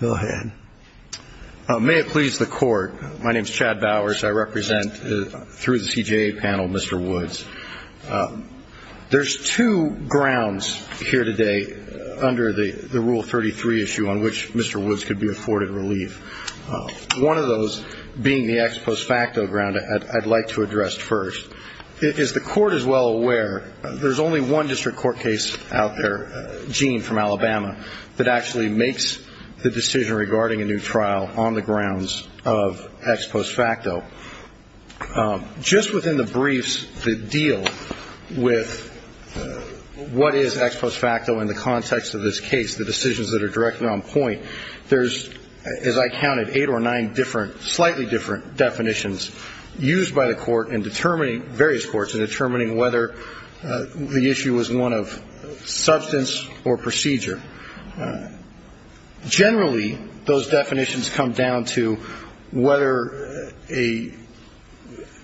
May it please the court. My name is Chad Bowers. I represent, through the CJA panel, Mr. Woods. There's two grounds here today under the Rule 33 issue on which Mr. Woods could be afforded relief. One of those being the ex post facto ground I'd like to address first. As the court is well aware, there's only one district court case out there, Gene, from Alabama, that actually makes the decision regarding a new trial on the grounds of ex post facto. Just within the briefs that deal with what is ex post facto in the context of this case, the decisions that are directed on point, there's, as I counted, eight or nine different, slightly different definitions used by the court in determining, various courts, in determining whether the issue was one of substance or procedure. Generally, those definitions come down to whether a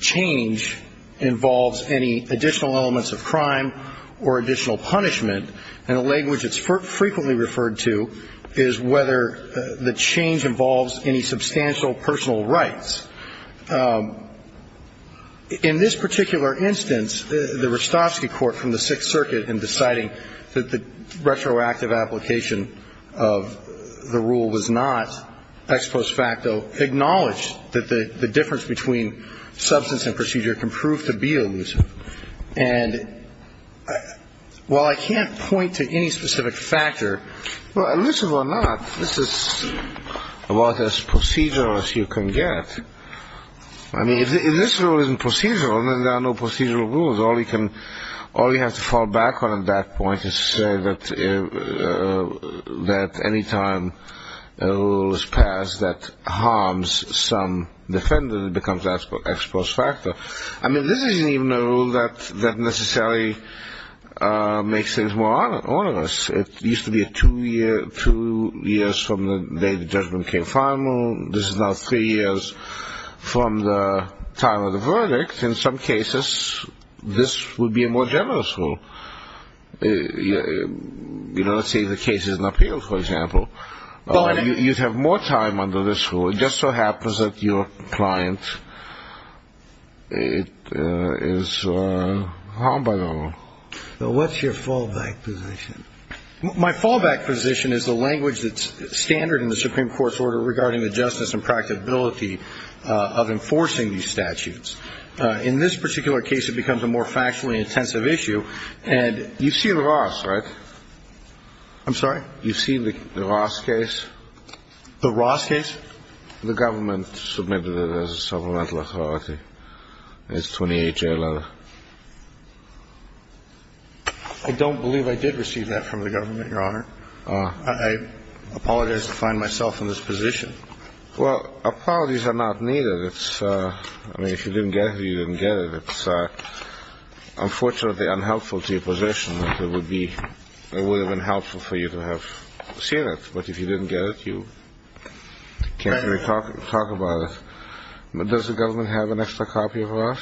change involves any additional elements of crime or additional punishment, and a language that's frequently referred to is whether the change involves any substantial personal rights. In this particular instance, the Rostovsky court from the Sixth Circuit, in deciding that the retroactive application of the rule was not ex post facto, acknowledged that the difference between substance and procedure can prove to be elusive. And while I can't point to any specific factor, elusive or not, this is about as procedural as you can get. I mean, if this rule isn't procedural, then there are no procedural rules. All you have to fall back on at that point is to say that any time a rule is passed that harms some defendant, it becomes ex post facto. I mean, this isn't even a rule that necessarily makes things more onerous. It used to be two years from the day the judgment became final. This is now three years from the time of the verdict. In some cases, this would be a more generous rule. My fallback position is the language that's standard in the Supreme Court's order regarding the justice and practicability of enforcing these statutes. In this particular case, it becomes a more factually intensive issue. And you've seen Ross, right? I'm sorry? You've seen the Ross case? The Ross case? The government submitted it as a supplemental authority. It's a 28-J letter. I don't believe I did receive that from the government, Your Honor. I apologize to find myself in this position. Well, apologies are not needed. I mean, if you didn't get it, you didn't get it. It's unfortunately unhelpful to your position. It would have been helpful for you to have seen it. But if you didn't get it, you can't really talk about it. Does the government have an extra copy of Ross?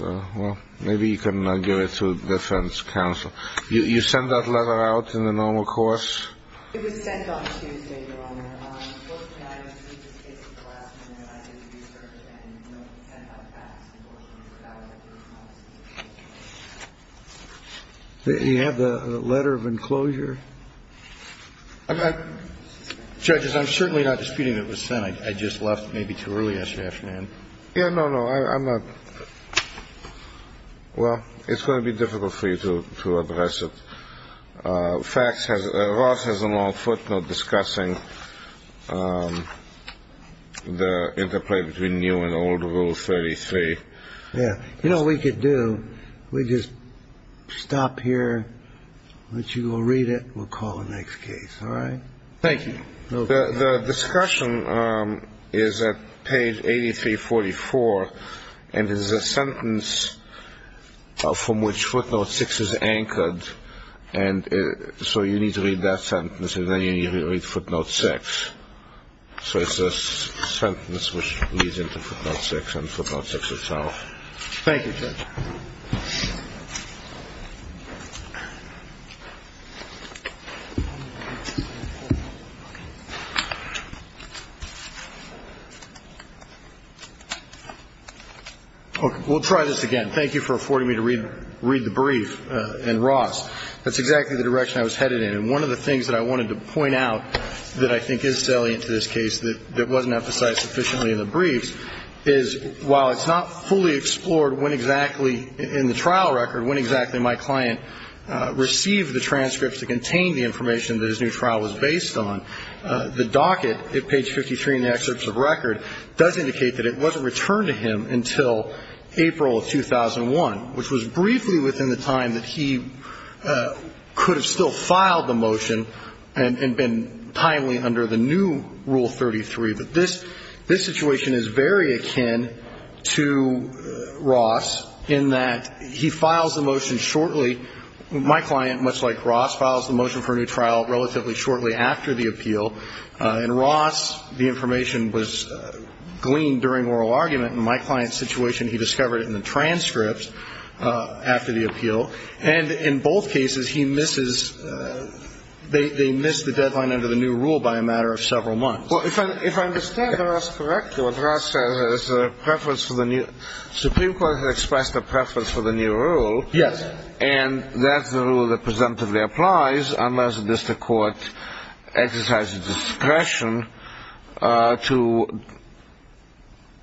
Well, maybe you can give it to defense counsel. You send that letter out in the normal course? It was sent on Tuesday, Your Honor. Both the night of Tuesday's case were last minute. I did research, and it was sent out fast. Unfortunately, that was approved by the Supreme Court. Do you have the letter of enclosure? Judges, I'm certainly not disputing that it was sent. I just left maybe too early yesterday afternoon. Yeah, no, no, I'm not. Well, it's going to be difficult for you to address it. Ross has a long footnote discussing the interplay between new and old Rule 33. Yeah. You know what we could do? We just stop here. Let you go read it. We'll call the next case. All right. Thank you. The discussion is at page 83, 44, and there's a sentence from which footnote six is anchored. And so you need to read that sentence, and then you need to read footnote six. So it's a sentence which leads into footnote six and footnote six itself. Thank you, Judge. We'll try this again. Thank you for affording me to read the brief. And, Ross, that's exactly the direction I was headed in. One of the things that I wanted to point out that I think is salient to this case that wasn't emphasized sufficiently in the briefs is, while it's not fully explored when exactly in the trial record, when exactly my client received the transcripts that contained the information that his new trial was based on, the docket at page 53 in the excerpts of record does indicate that it wasn't returned to him until April of 2001, which was briefly within the time that he could have still filed the motion. And been timely under the new Rule 33. But this situation is very akin to Ross in that he files the motion shortly. My client, much like Ross, files the motion for a new trial relatively shortly after the appeal. In Ross, the information was gleaned during oral argument. In my client's situation, he discovered it in the transcripts after the appeal. And in both cases, he misses, they miss the deadline under the new rule by a matter of several months. Well, if I understand Ross correctly, what Ross says is that the Supreme Court has expressed a preference for the new rule. And that's the rule that presumptively applies unless the district court exercises discretion to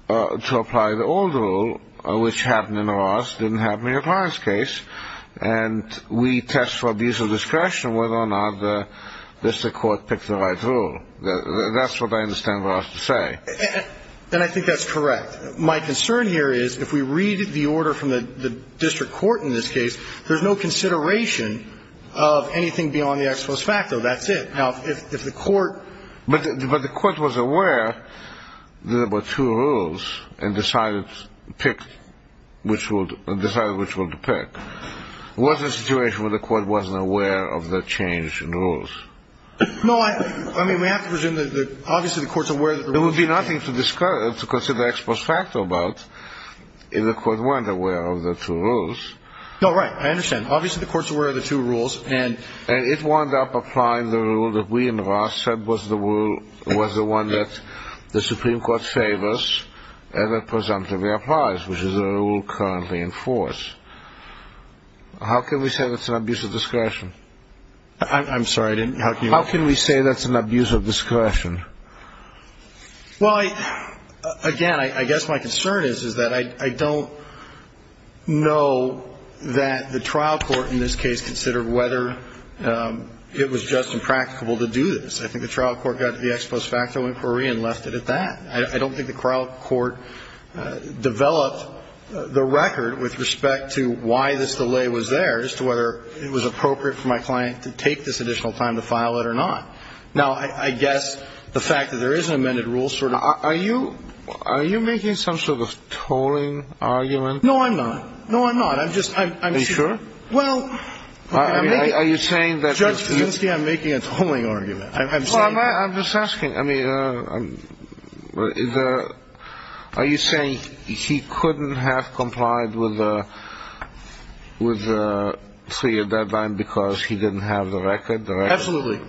apply the old rule, which happened in Ross, didn't happen in your client's case. And we test for abuse of discretion whether or not the district court picked the right rule. That's what I understand Ross to say. And I think that's correct. My concern here is if we read the order from the district court in this case, there's no consideration of anything beyond the ex post facto. That's it. But the court was aware there were two rules and decided which one to pick. Was there a situation where the court wasn't aware of the change in rules? No, I mean, we have to presume that obviously the court's aware of the rules. There would be nothing to consider ex post facto about if the court weren't aware of the two rules. No, right. I understand. Obviously the court's aware of the two rules. And it wound up applying the rule that we in Ross said was the one that the Supreme Court favors and that presumptively applies, which is the rule currently in force. How can we say that's an abuse of discretion? I'm sorry, I didn't hear you. How can we say that's an abuse of discretion? Well, again, I guess my concern is that I don't know that the trial court in this case considered whether it was just impracticable to do this. I think the trial court got to the ex post facto inquiry and left it at that. I don't think the trial court developed the record with respect to why this delay was there as to whether it was appropriate for my client to take this additional time to file it or not. Now, I guess the fact that there is an amended rule sort of. Are you are you making some sort of tolling argument? No, I'm not. No, I'm not. I'm just I'm sure. Well, I mean, are you saying that? You see, I'm making a tolling argument. I'm just asking. I mean, are you saying he couldn't have complied with the with the three deadline because he didn't have the record? Absolutely.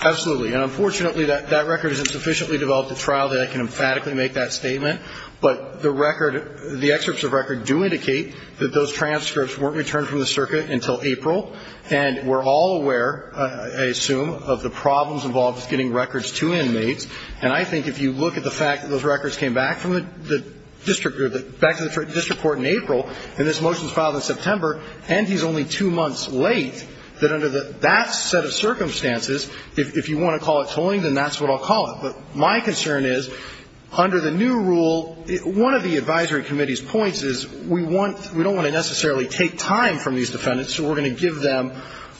Absolutely. And unfortunately, that record isn't sufficiently developed to trial that I can emphatically make that statement. But the record, the excerpts of record do indicate that those transcripts weren't returned from the circuit until April. And we're all aware, I assume, of the problems involved with getting records to inmates. And I think if you look at the fact that those records came back from the district or back to the district court in April, and this motion was filed in September, and he's only two months late, that under that set of circumstances, if you want to call it tolling, then that's what I'll call it. But my concern is under the new rule, one of the advisory committee's points is we want we don't want to necessarily take time from these defendants, so we're going to give them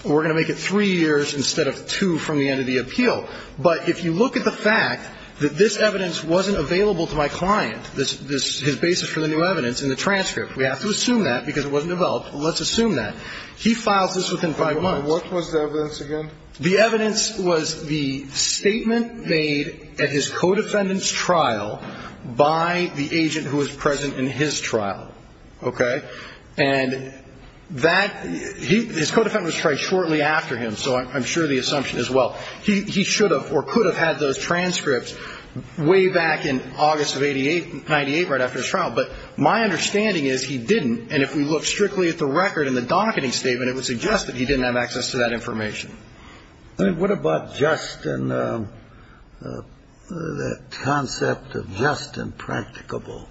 we're going to make it three years instead of two from the end of the appeal. But if you look at the fact that this evidence wasn't available to my client, his basis for the new evidence in the transcript, we have to assume that because it wasn't developed. Let's assume that. He files this within five months. What was the evidence again? The evidence was the statement made at his co-defendant's trial by the agent who was present in his trial. Okay? And that, his co-defendant was tried shortly after him, so I'm sure the assumption as well. He should have or could have had those transcripts way back in August of 88, 98, right after his trial. But my understanding is he didn't. And if we look strictly at the record in the docketing statement, it would suggest that he didn't have access to that information. I mean, what about just and that concept of just and practicable?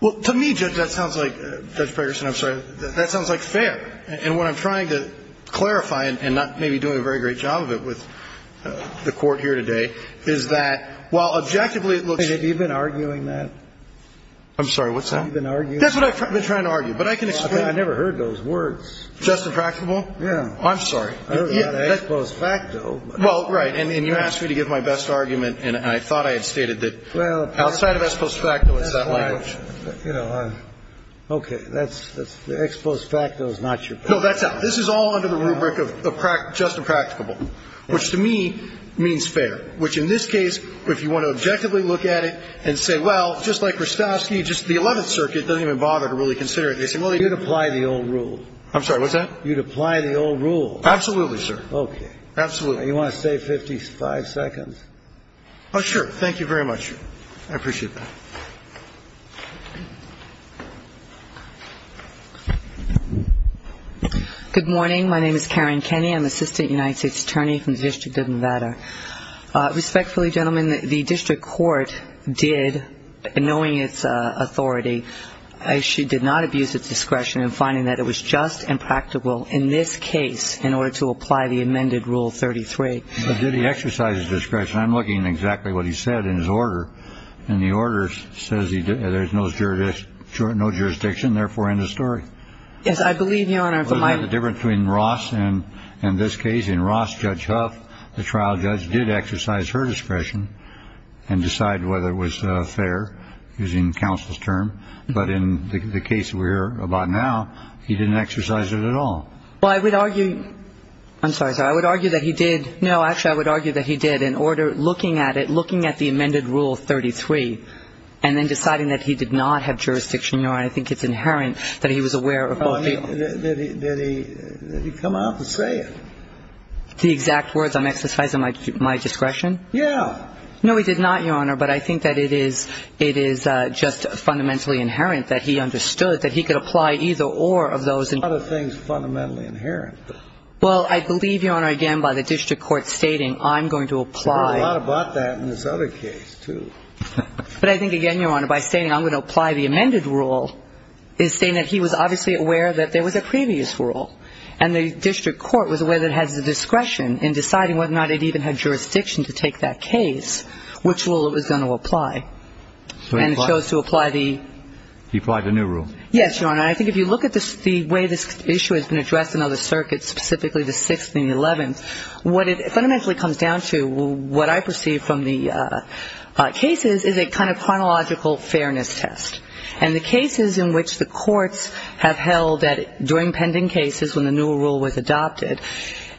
Well, to me, Judge, that sounds like, Judge Pegerson, I'm sorry, that sounds like fair. And what I'm trying to clarify, and not maybe doing a very great job of it with the Court here today, is that while objectively it looks it looks like, in the case of the case of the case of the case of the case of the case, it looks like, that's a fair argument. Have you been arguing that? I'm sorry. What's that? Have you been arguing that? That's what I've been trying to argue. But I can explain it. I never heard those words. Just and practicable? Yeah. I'm sorry. I heard that as ex post facto. Well, right. And you asked me to give my best argument. And I thought I had stated that outside of ex post facto, it's that language. You know, okay. That's the ex post facto is not your point. No, that's not. This is all under the rubric of just and practicable, which to me means fair, which in this case, if you want to objectively look at it and say, well, just like Grostovsky, just the Eleventh Circuit doesn't even bother to really consider it. They say, well, they do. You'd apply the old rule. I'm sorry. What's that? You'd apply the old rule. Absolutely, sir. Okay. Absolutely. You want to stay 55 seconds? Oh, sure. Thank you very much. I appreciate that. Good morning. My name is Karen Kenney. I'm Assistant United States Attorney from the District of Nevada. Respectfully, gentlemen, the district court did, knowing its authority, she did not abuse its discretion in finding that it was just and practicable in this case in order to apply I'm sorry. I'm sorry. I'm sorry. I'm sorry. I'm sorry. I'm sorry. I'm sorry. I'm sorry. I'm sorry. I just wanted to make that clear so I don't get lost on both lands. But did he exercise discretion? I'm looking in Exactly what he said in his order and the order says he did. There's no jurisdiction, no jurisdiction. Therefore, end of story. Yes, I believe the honor of the might different between Rossloh in this case in Ross kilogram of a trial judge did exercise her discretion and decide whether it was fair using counsel's term, but in the case we're about now, he didn't exercise it at all. Well, I would argue. I'm sorry. So I would argue that he did. No, actually, I would argue that he did in order looking at it, looking at the amended rule 33 and then deciding that he did not have jurisdiction. I think it's inherent that he was aware of that. He come out to say the exact words I'm exercising my discretion. Yeah. No, he did not, Your Honor. But I think that it is it is just fundamentally inherent that he understood that he could apply either or of those and other things fundamentally inherent. Well, I believe, Your Honor, again, by the district court stating I'm going to apply a lot about that in this other case, too. But I think again, Your Honor, by saying I'm going to apply the amended rule is saying that he was obviously aware that there was a previous rule and the district court was aware that has the discretion in deciding whether or not it even had jurisdiction to take that case, which rule it was going to apply. And it shows to apply the. He applied the new rule. Yes, Your Honor. I think if you look at the way this issue has been addressed in other circuits, specifically the 6th and the 11th, what it fundamentally comes down to, what I perceive from the cases is a kind of chronological fairness test. And the cases in which the courts have held that during pending cases when the new rule was adopted,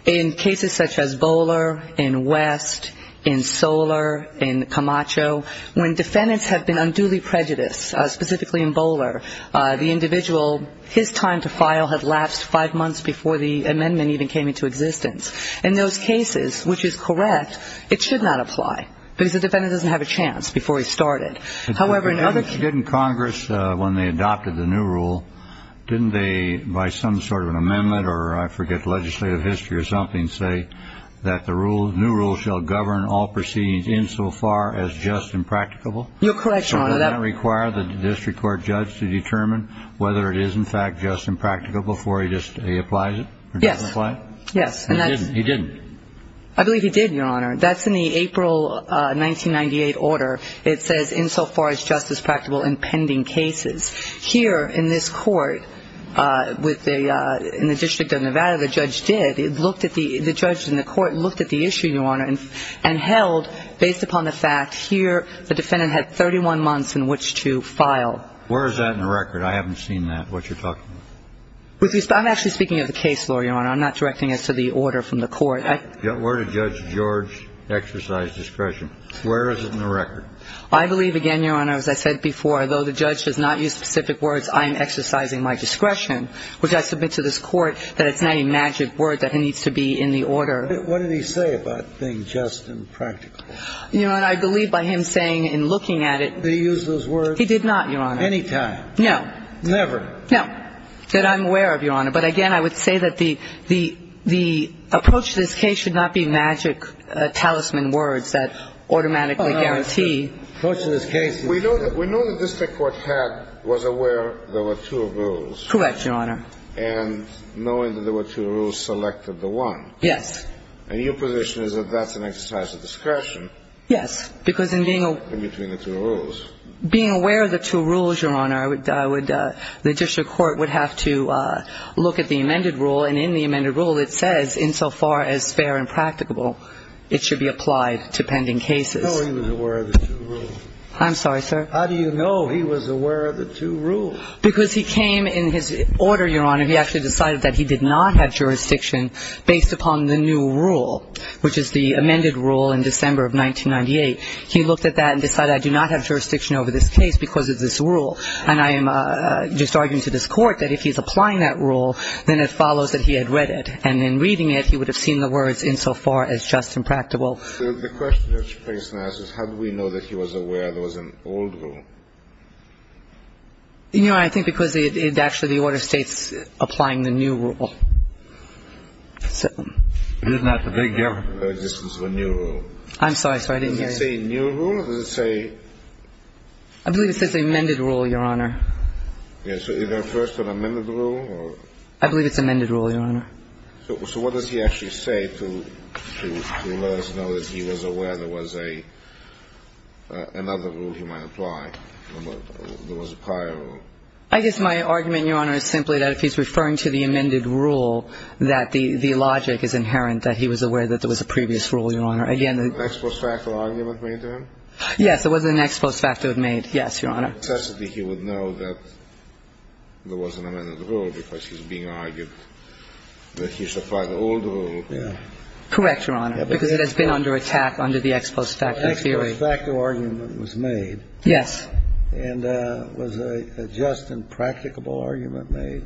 in cases such as Bowler, in West, in Soler, in Camacho, when defendants have been unduly prejudiced, specifically in Bowler, the individual, his time to file had lapsed five months before the amendment even came into existence. In those cases, which is correct, it should not apply because the defendant doesn't have a chance However, in other cases. When they adopted the new rule, didn't they, by some sort of an amendment or, I forget, legislative history or something, say that the new rule shall govern all proceedings insofar as just and practicable? You're correct, Your Honor. So does that require the district court judge to determine whether it is, in fact, just and practicable before he applies it or doesn't apply it? Yes. He didn't. I believe he did, Your Honor. That's in the April 1998 order. It says, insofar as just and practicable in pending cases. Here in this court, in the District of Nevada, the judge did. The judge and the court looked at the issue, Your Honor, and held, based upon the fact, here the defendant had 31 months in which to file. Where is that in the record? I haven't seen that, what you're talking about. I'm actually speaking of the case law, Your Honor. I'm not directing it to the order from the court. Where did Judge George exercise discretion? Where is it in the record? I believe, again, Your Honor, as I said before, though the judge does not use specific words, I am exercising my discretion, which I submit to this court that it's not a magic word, that it needs to be in the order. What did he say about being just and practical? Your Honor, I believe by him saying and looking at it he did not, Your Honor. Any time? No. Never? No. That I'm aware of, Your Honor. But, again, I would say that the approach to this case should not be magic talisman words that automatically guarantee. Approach to this case. We know the district court was aware there were two rules. Correct, Your Honor. And knowing that there were two rules selected the one. Yes. And your position is that that's an exercise of discretion. Yes. Because in being a... In between the two rules. Being aware of the two rules, Your Honor, I would, the district court would have to look at the amended rule, and in the amended rule it says insofar as fair and practical as possible. The court would have to look at that and decide to... How do you know he was aware of the two rules? How do you know he was aware of the two rules? Because he came in his order, Your Honor, he actually decided that he did not have jurisdiction based upon the new rule, which is the amended rule in December of 1998. He looked at that and decided I do not have jurisdiction over this case because of this rule. And I am just arguing to this Court that if he's applying that rule, then it follows that he had read it. And in reading it, he would have seen the words insofar as just and practical. The question that's raised now is how do we know that he was aware there was an old rule? You know, I think because it actually, the order states applying the new rule. So... Isn't that the big gap in the existence of a new rule? I'm sorry. I didn't hear you. Does it say new rule or does it say... I believe it says amended rule, Your Honor. Yes. So is that first an amended rule or... I believe it's amended rule, Your Honor. So what does he actually say to let us know that he was aware there was another rule he might apply, there was a prior rule? I guess my argument, Your Honor, is simply that if he's referring to the amended rule, that the logic is inherent that he was aware that there was a previous rule, Your Honor. Again, the... Was there an ex post facto argument made to him? Yes, there was an ex post facto made, yes, Your Honor. In necessity he would know that there was an amended rule because he's being argued that he should apply the old rule. Correct, Your Honor, because it has been under attack under the ex post facto theory. An ex post facto argument was made. Yes. And was a just and practicable argument made?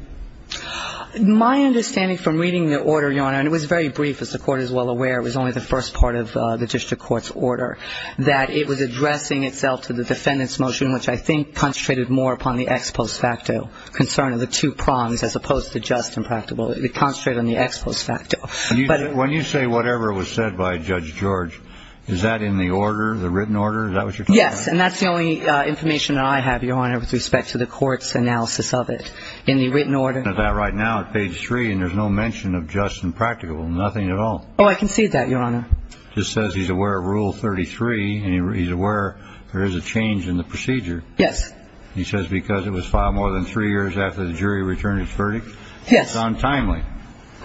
My understanding from reading the order, Your Honor, and it was very brief, as the Court is well aware, it was only the first part of the district court's order, that it was addressing itself to the defendant's motion, which I think concentrated more upon the ex post facto concern of the two prongs as opposed to just and practicable. It concentrated on the ex post facto. When you say whatever was said by Judge George, is that in the order, the written order? Is that what you're talking about? Yes, and that's the only information that I have, Your Honor, with respect to the Court's analysis of it in the written order. I'm looking at that right now at page three, and there's no mention of just and practicable, nothing at all. Oh, I can see that, Your Honor. Just says he's aware of Rule 33, and he's aware there is a change in the procedure. Yes. He says because it was filed more than three years after the jury returned its verdict. Yes. It's untimely.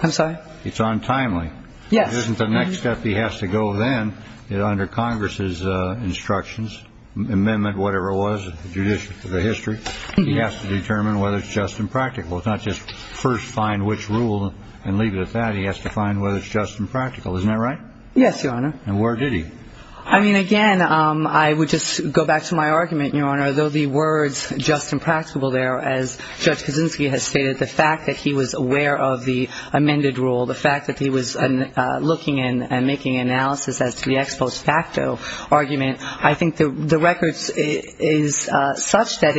I'm sorry? It's untimely. Yes. It isn't the next step he has to go then, under Congress's instructions, amendment whatever it was, the judiciary, the history, he has to determine whether it's just and practical. It's not just first find which rule and leave it at that. He has to find whether it's just and practical. Isn't that right? Yes, Your Honor. And where did he? I mean, again, I would just go back to my argument, Your Honor. Though the words just and practical there, as Judge Kaczynski has stated, the fact that he was aware of the amended rule, the fact that he was looking and making analysis as to the ex post facto argument, I think the record is such that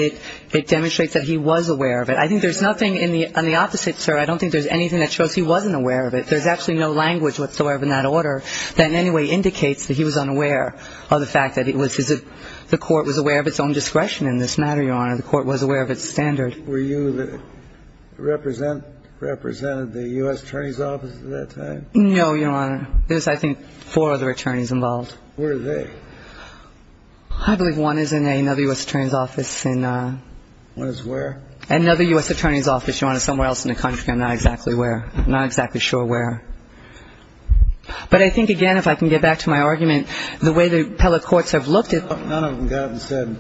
it demonstrates that he was aware of it. I think there's nothing on the opposite, sir. I don't think there's anything that shows he wasn't aware of it. There's actually no language whatsoever in that order that in any way indicates that he was unaware of the fact that it was his – the Court was aware of its own discretion in this matter, Your Honor. The Court was aware of its standard. Were you the – represented the U.S. Attorney's Office at that time? No, Your Honor. There was, I think, four other attorneys involved. Where are they? I believe one is in another U.S. Attorney's Office in – One is where? Another U.S. Attorney's Office, Your Honor, somewhere else in the country. I'm not exactly where. But I think, again, if I can get back to my argument, the way the appellate courts have looked at – None of them got and said,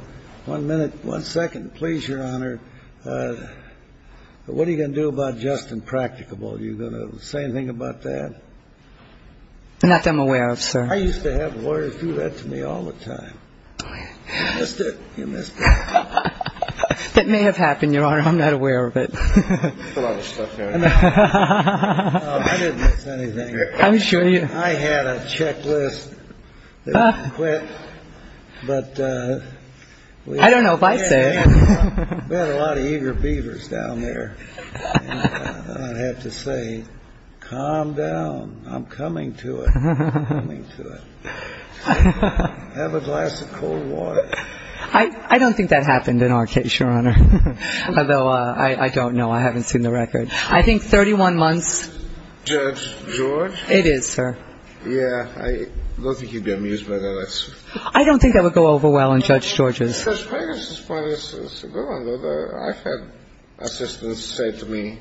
one minute, one second, please, Your Honor, what are you going to do about just impracticable? Are you going to say anything about that? Not that I'm aware of, sir. I used to have lawyers do that to me all the time. Oh, yeah. You missed it. You missed it. That may have happened, Your Honor. I'm not aware of it. There's a lot of stuff there. I didn't miss anything. I'm sure you – I had a checklist that I quit, but – I don't know if I said it. We had a lot of eager beavers down there. I have to say, calm down. I'm coming to it. I'm coming to it. Have a glass of cold water. I don't think that happened in our case, Your Honor. Although, I don't know. I haven't seen the record. I think 31 months. Judge George? It is, sir. Yeah. I don't think you'd be amused by that. I don't think I would go over well on Judge George's. Judge Ferguson's point is a good one. I've had assistants say that to me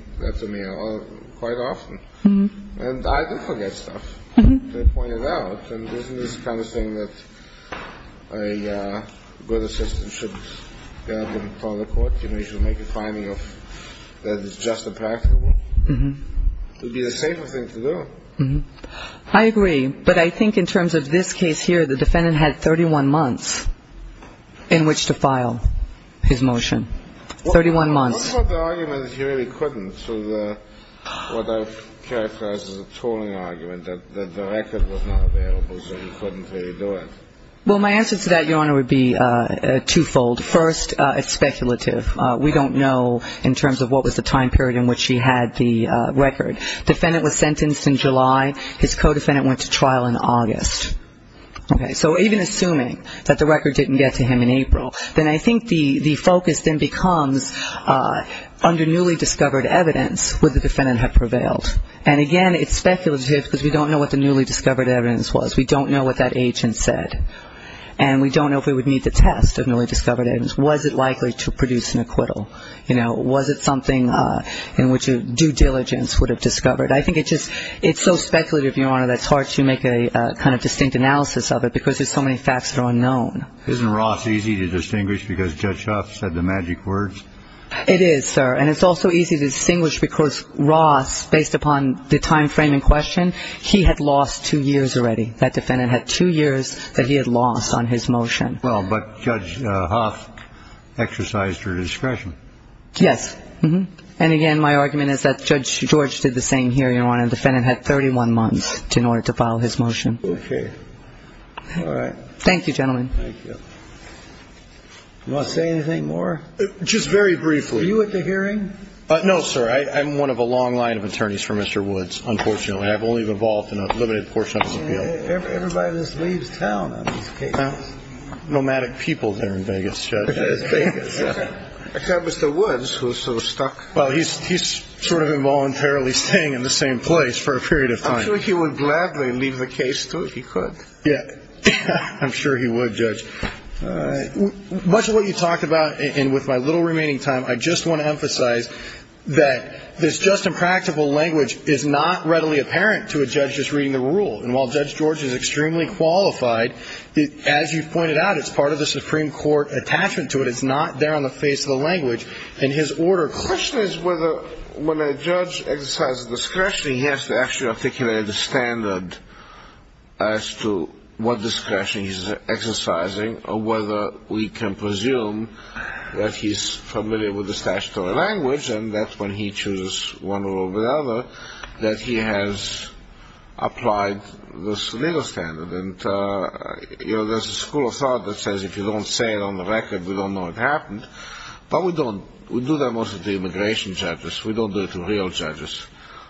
quite often. And I do forget stuff. They point it out. I agree. But I think in terms of this case here, the defendant had 31 months in which to file his motion. 31 months. What about the argument that he really couldn't? So what I've characterized as a trolling argument, that the record was not available. I don't know. Well, my answer to that, Your Honor, would be twofold. First, it's speculative. We don't know in terms of what was the time period in which he had the record. The defendant was sentenced in July. His co-defendant went to trial in August. Okay. So even assuming that the record didn't get to him in April, then I think the focus then becomes under newly discovered evidence, would the defendant have prevailed? And, again, it's speculative because we don't know what the newly discovered evidence was. We don't know what that agent said. And we don't know if we would need the test of newly discovered evidence. Was it likely to produce an acquittal? You know, was it something in which a due diligence would have discovered? I think it's so speculative, Your Honor, that it's hard to make a kind of distinct analysis of it because there's so many facts that are unknown. Isn't Ross easy to distinguish because Judge Huff said the magic words? It is, sir. Well, but Judge Huff exercised her discretion. Yes. And, again, my argument is that Judge George did the same hearing, Your Honor. The defendant had 31 months in order to file his motion. Okay. All right. Thank you, gentlemen. Thank you. You want to say anything more? Just very briefly. Are you at the hearing? No, sir. I've only been here for a couple of years. Everybody just leaves town on these cases. Nomadic people there in Vegas, Judge. Except Mr. Woods, who's sort of stuck. Well, he's sort of involuntarily staying in the same place for a period of time. I'm sure he would gladly leave the case, too, if he could. Yeah. I'm sure he would, Judge. Much of what you talked about, and with my little remaining time, I just want to emphasize that this just and practical language is not readily apparent to a judge that's reading the rule. And while Judge George is extremely qualified, as you've pointed out, it's part of the Supreme Court attachment to it. It's not there on the face of the language in his order. The question is whether when a judge exercises discretion, he has to actually articulate the standard as to what discretion he's exercising or whether we can presume that he's familiar with the statutory language and that when he chooses one rule over the other, that he has applied this legal standard. And, you know, there's a school of thought that says if you don't say it on the record, we don't know what happened. But we don't. We do that mostly to immigration judges. We don't do it to real judges.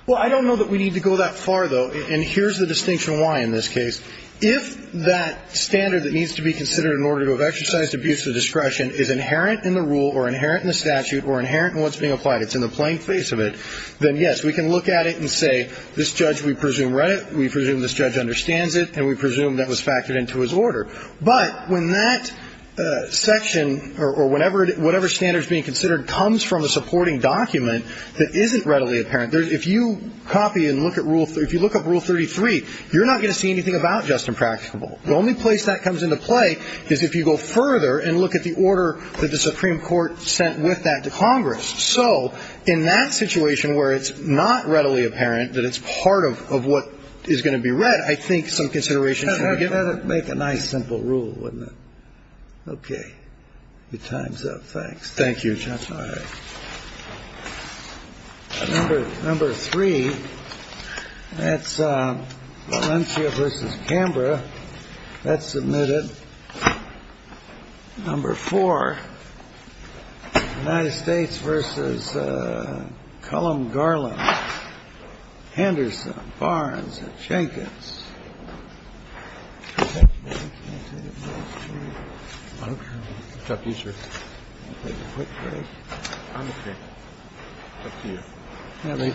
Well, I don't know that we need to go that far, though. And here's the distinction why in this case. If that standard that needs to be considered in order to have exercised abuse of discretion is inherent in the rule or inherent in the statute or inherent in what's being applied, it's in the plain face of it, then, yes, we can look at it and say this judge, we presume read it, we presume this judge understands it, and we presume that was factored into his order. But when that section or whatever standard is being considered comes from a supporting document that isn't readily apparent, if you copy and look at Rule 33, you're not going to see anything about just impracticable. The only place that comes into play is if you go further and look at the order that the Supreme Court sent with that to Congress. So in that situation where it's not readily apparent that it's part of what is going to be read, I think some consideration should be given. Let it make a nice simple rule, wouldn't it? Okay. Your time's up. Thanks. Thank you, Justice. All right. Number three, that's Valencia v. Canberra. That's submitted. Number four, United States v. Cullum Garland, Henderson, Barnes, Jenkins. Thank you.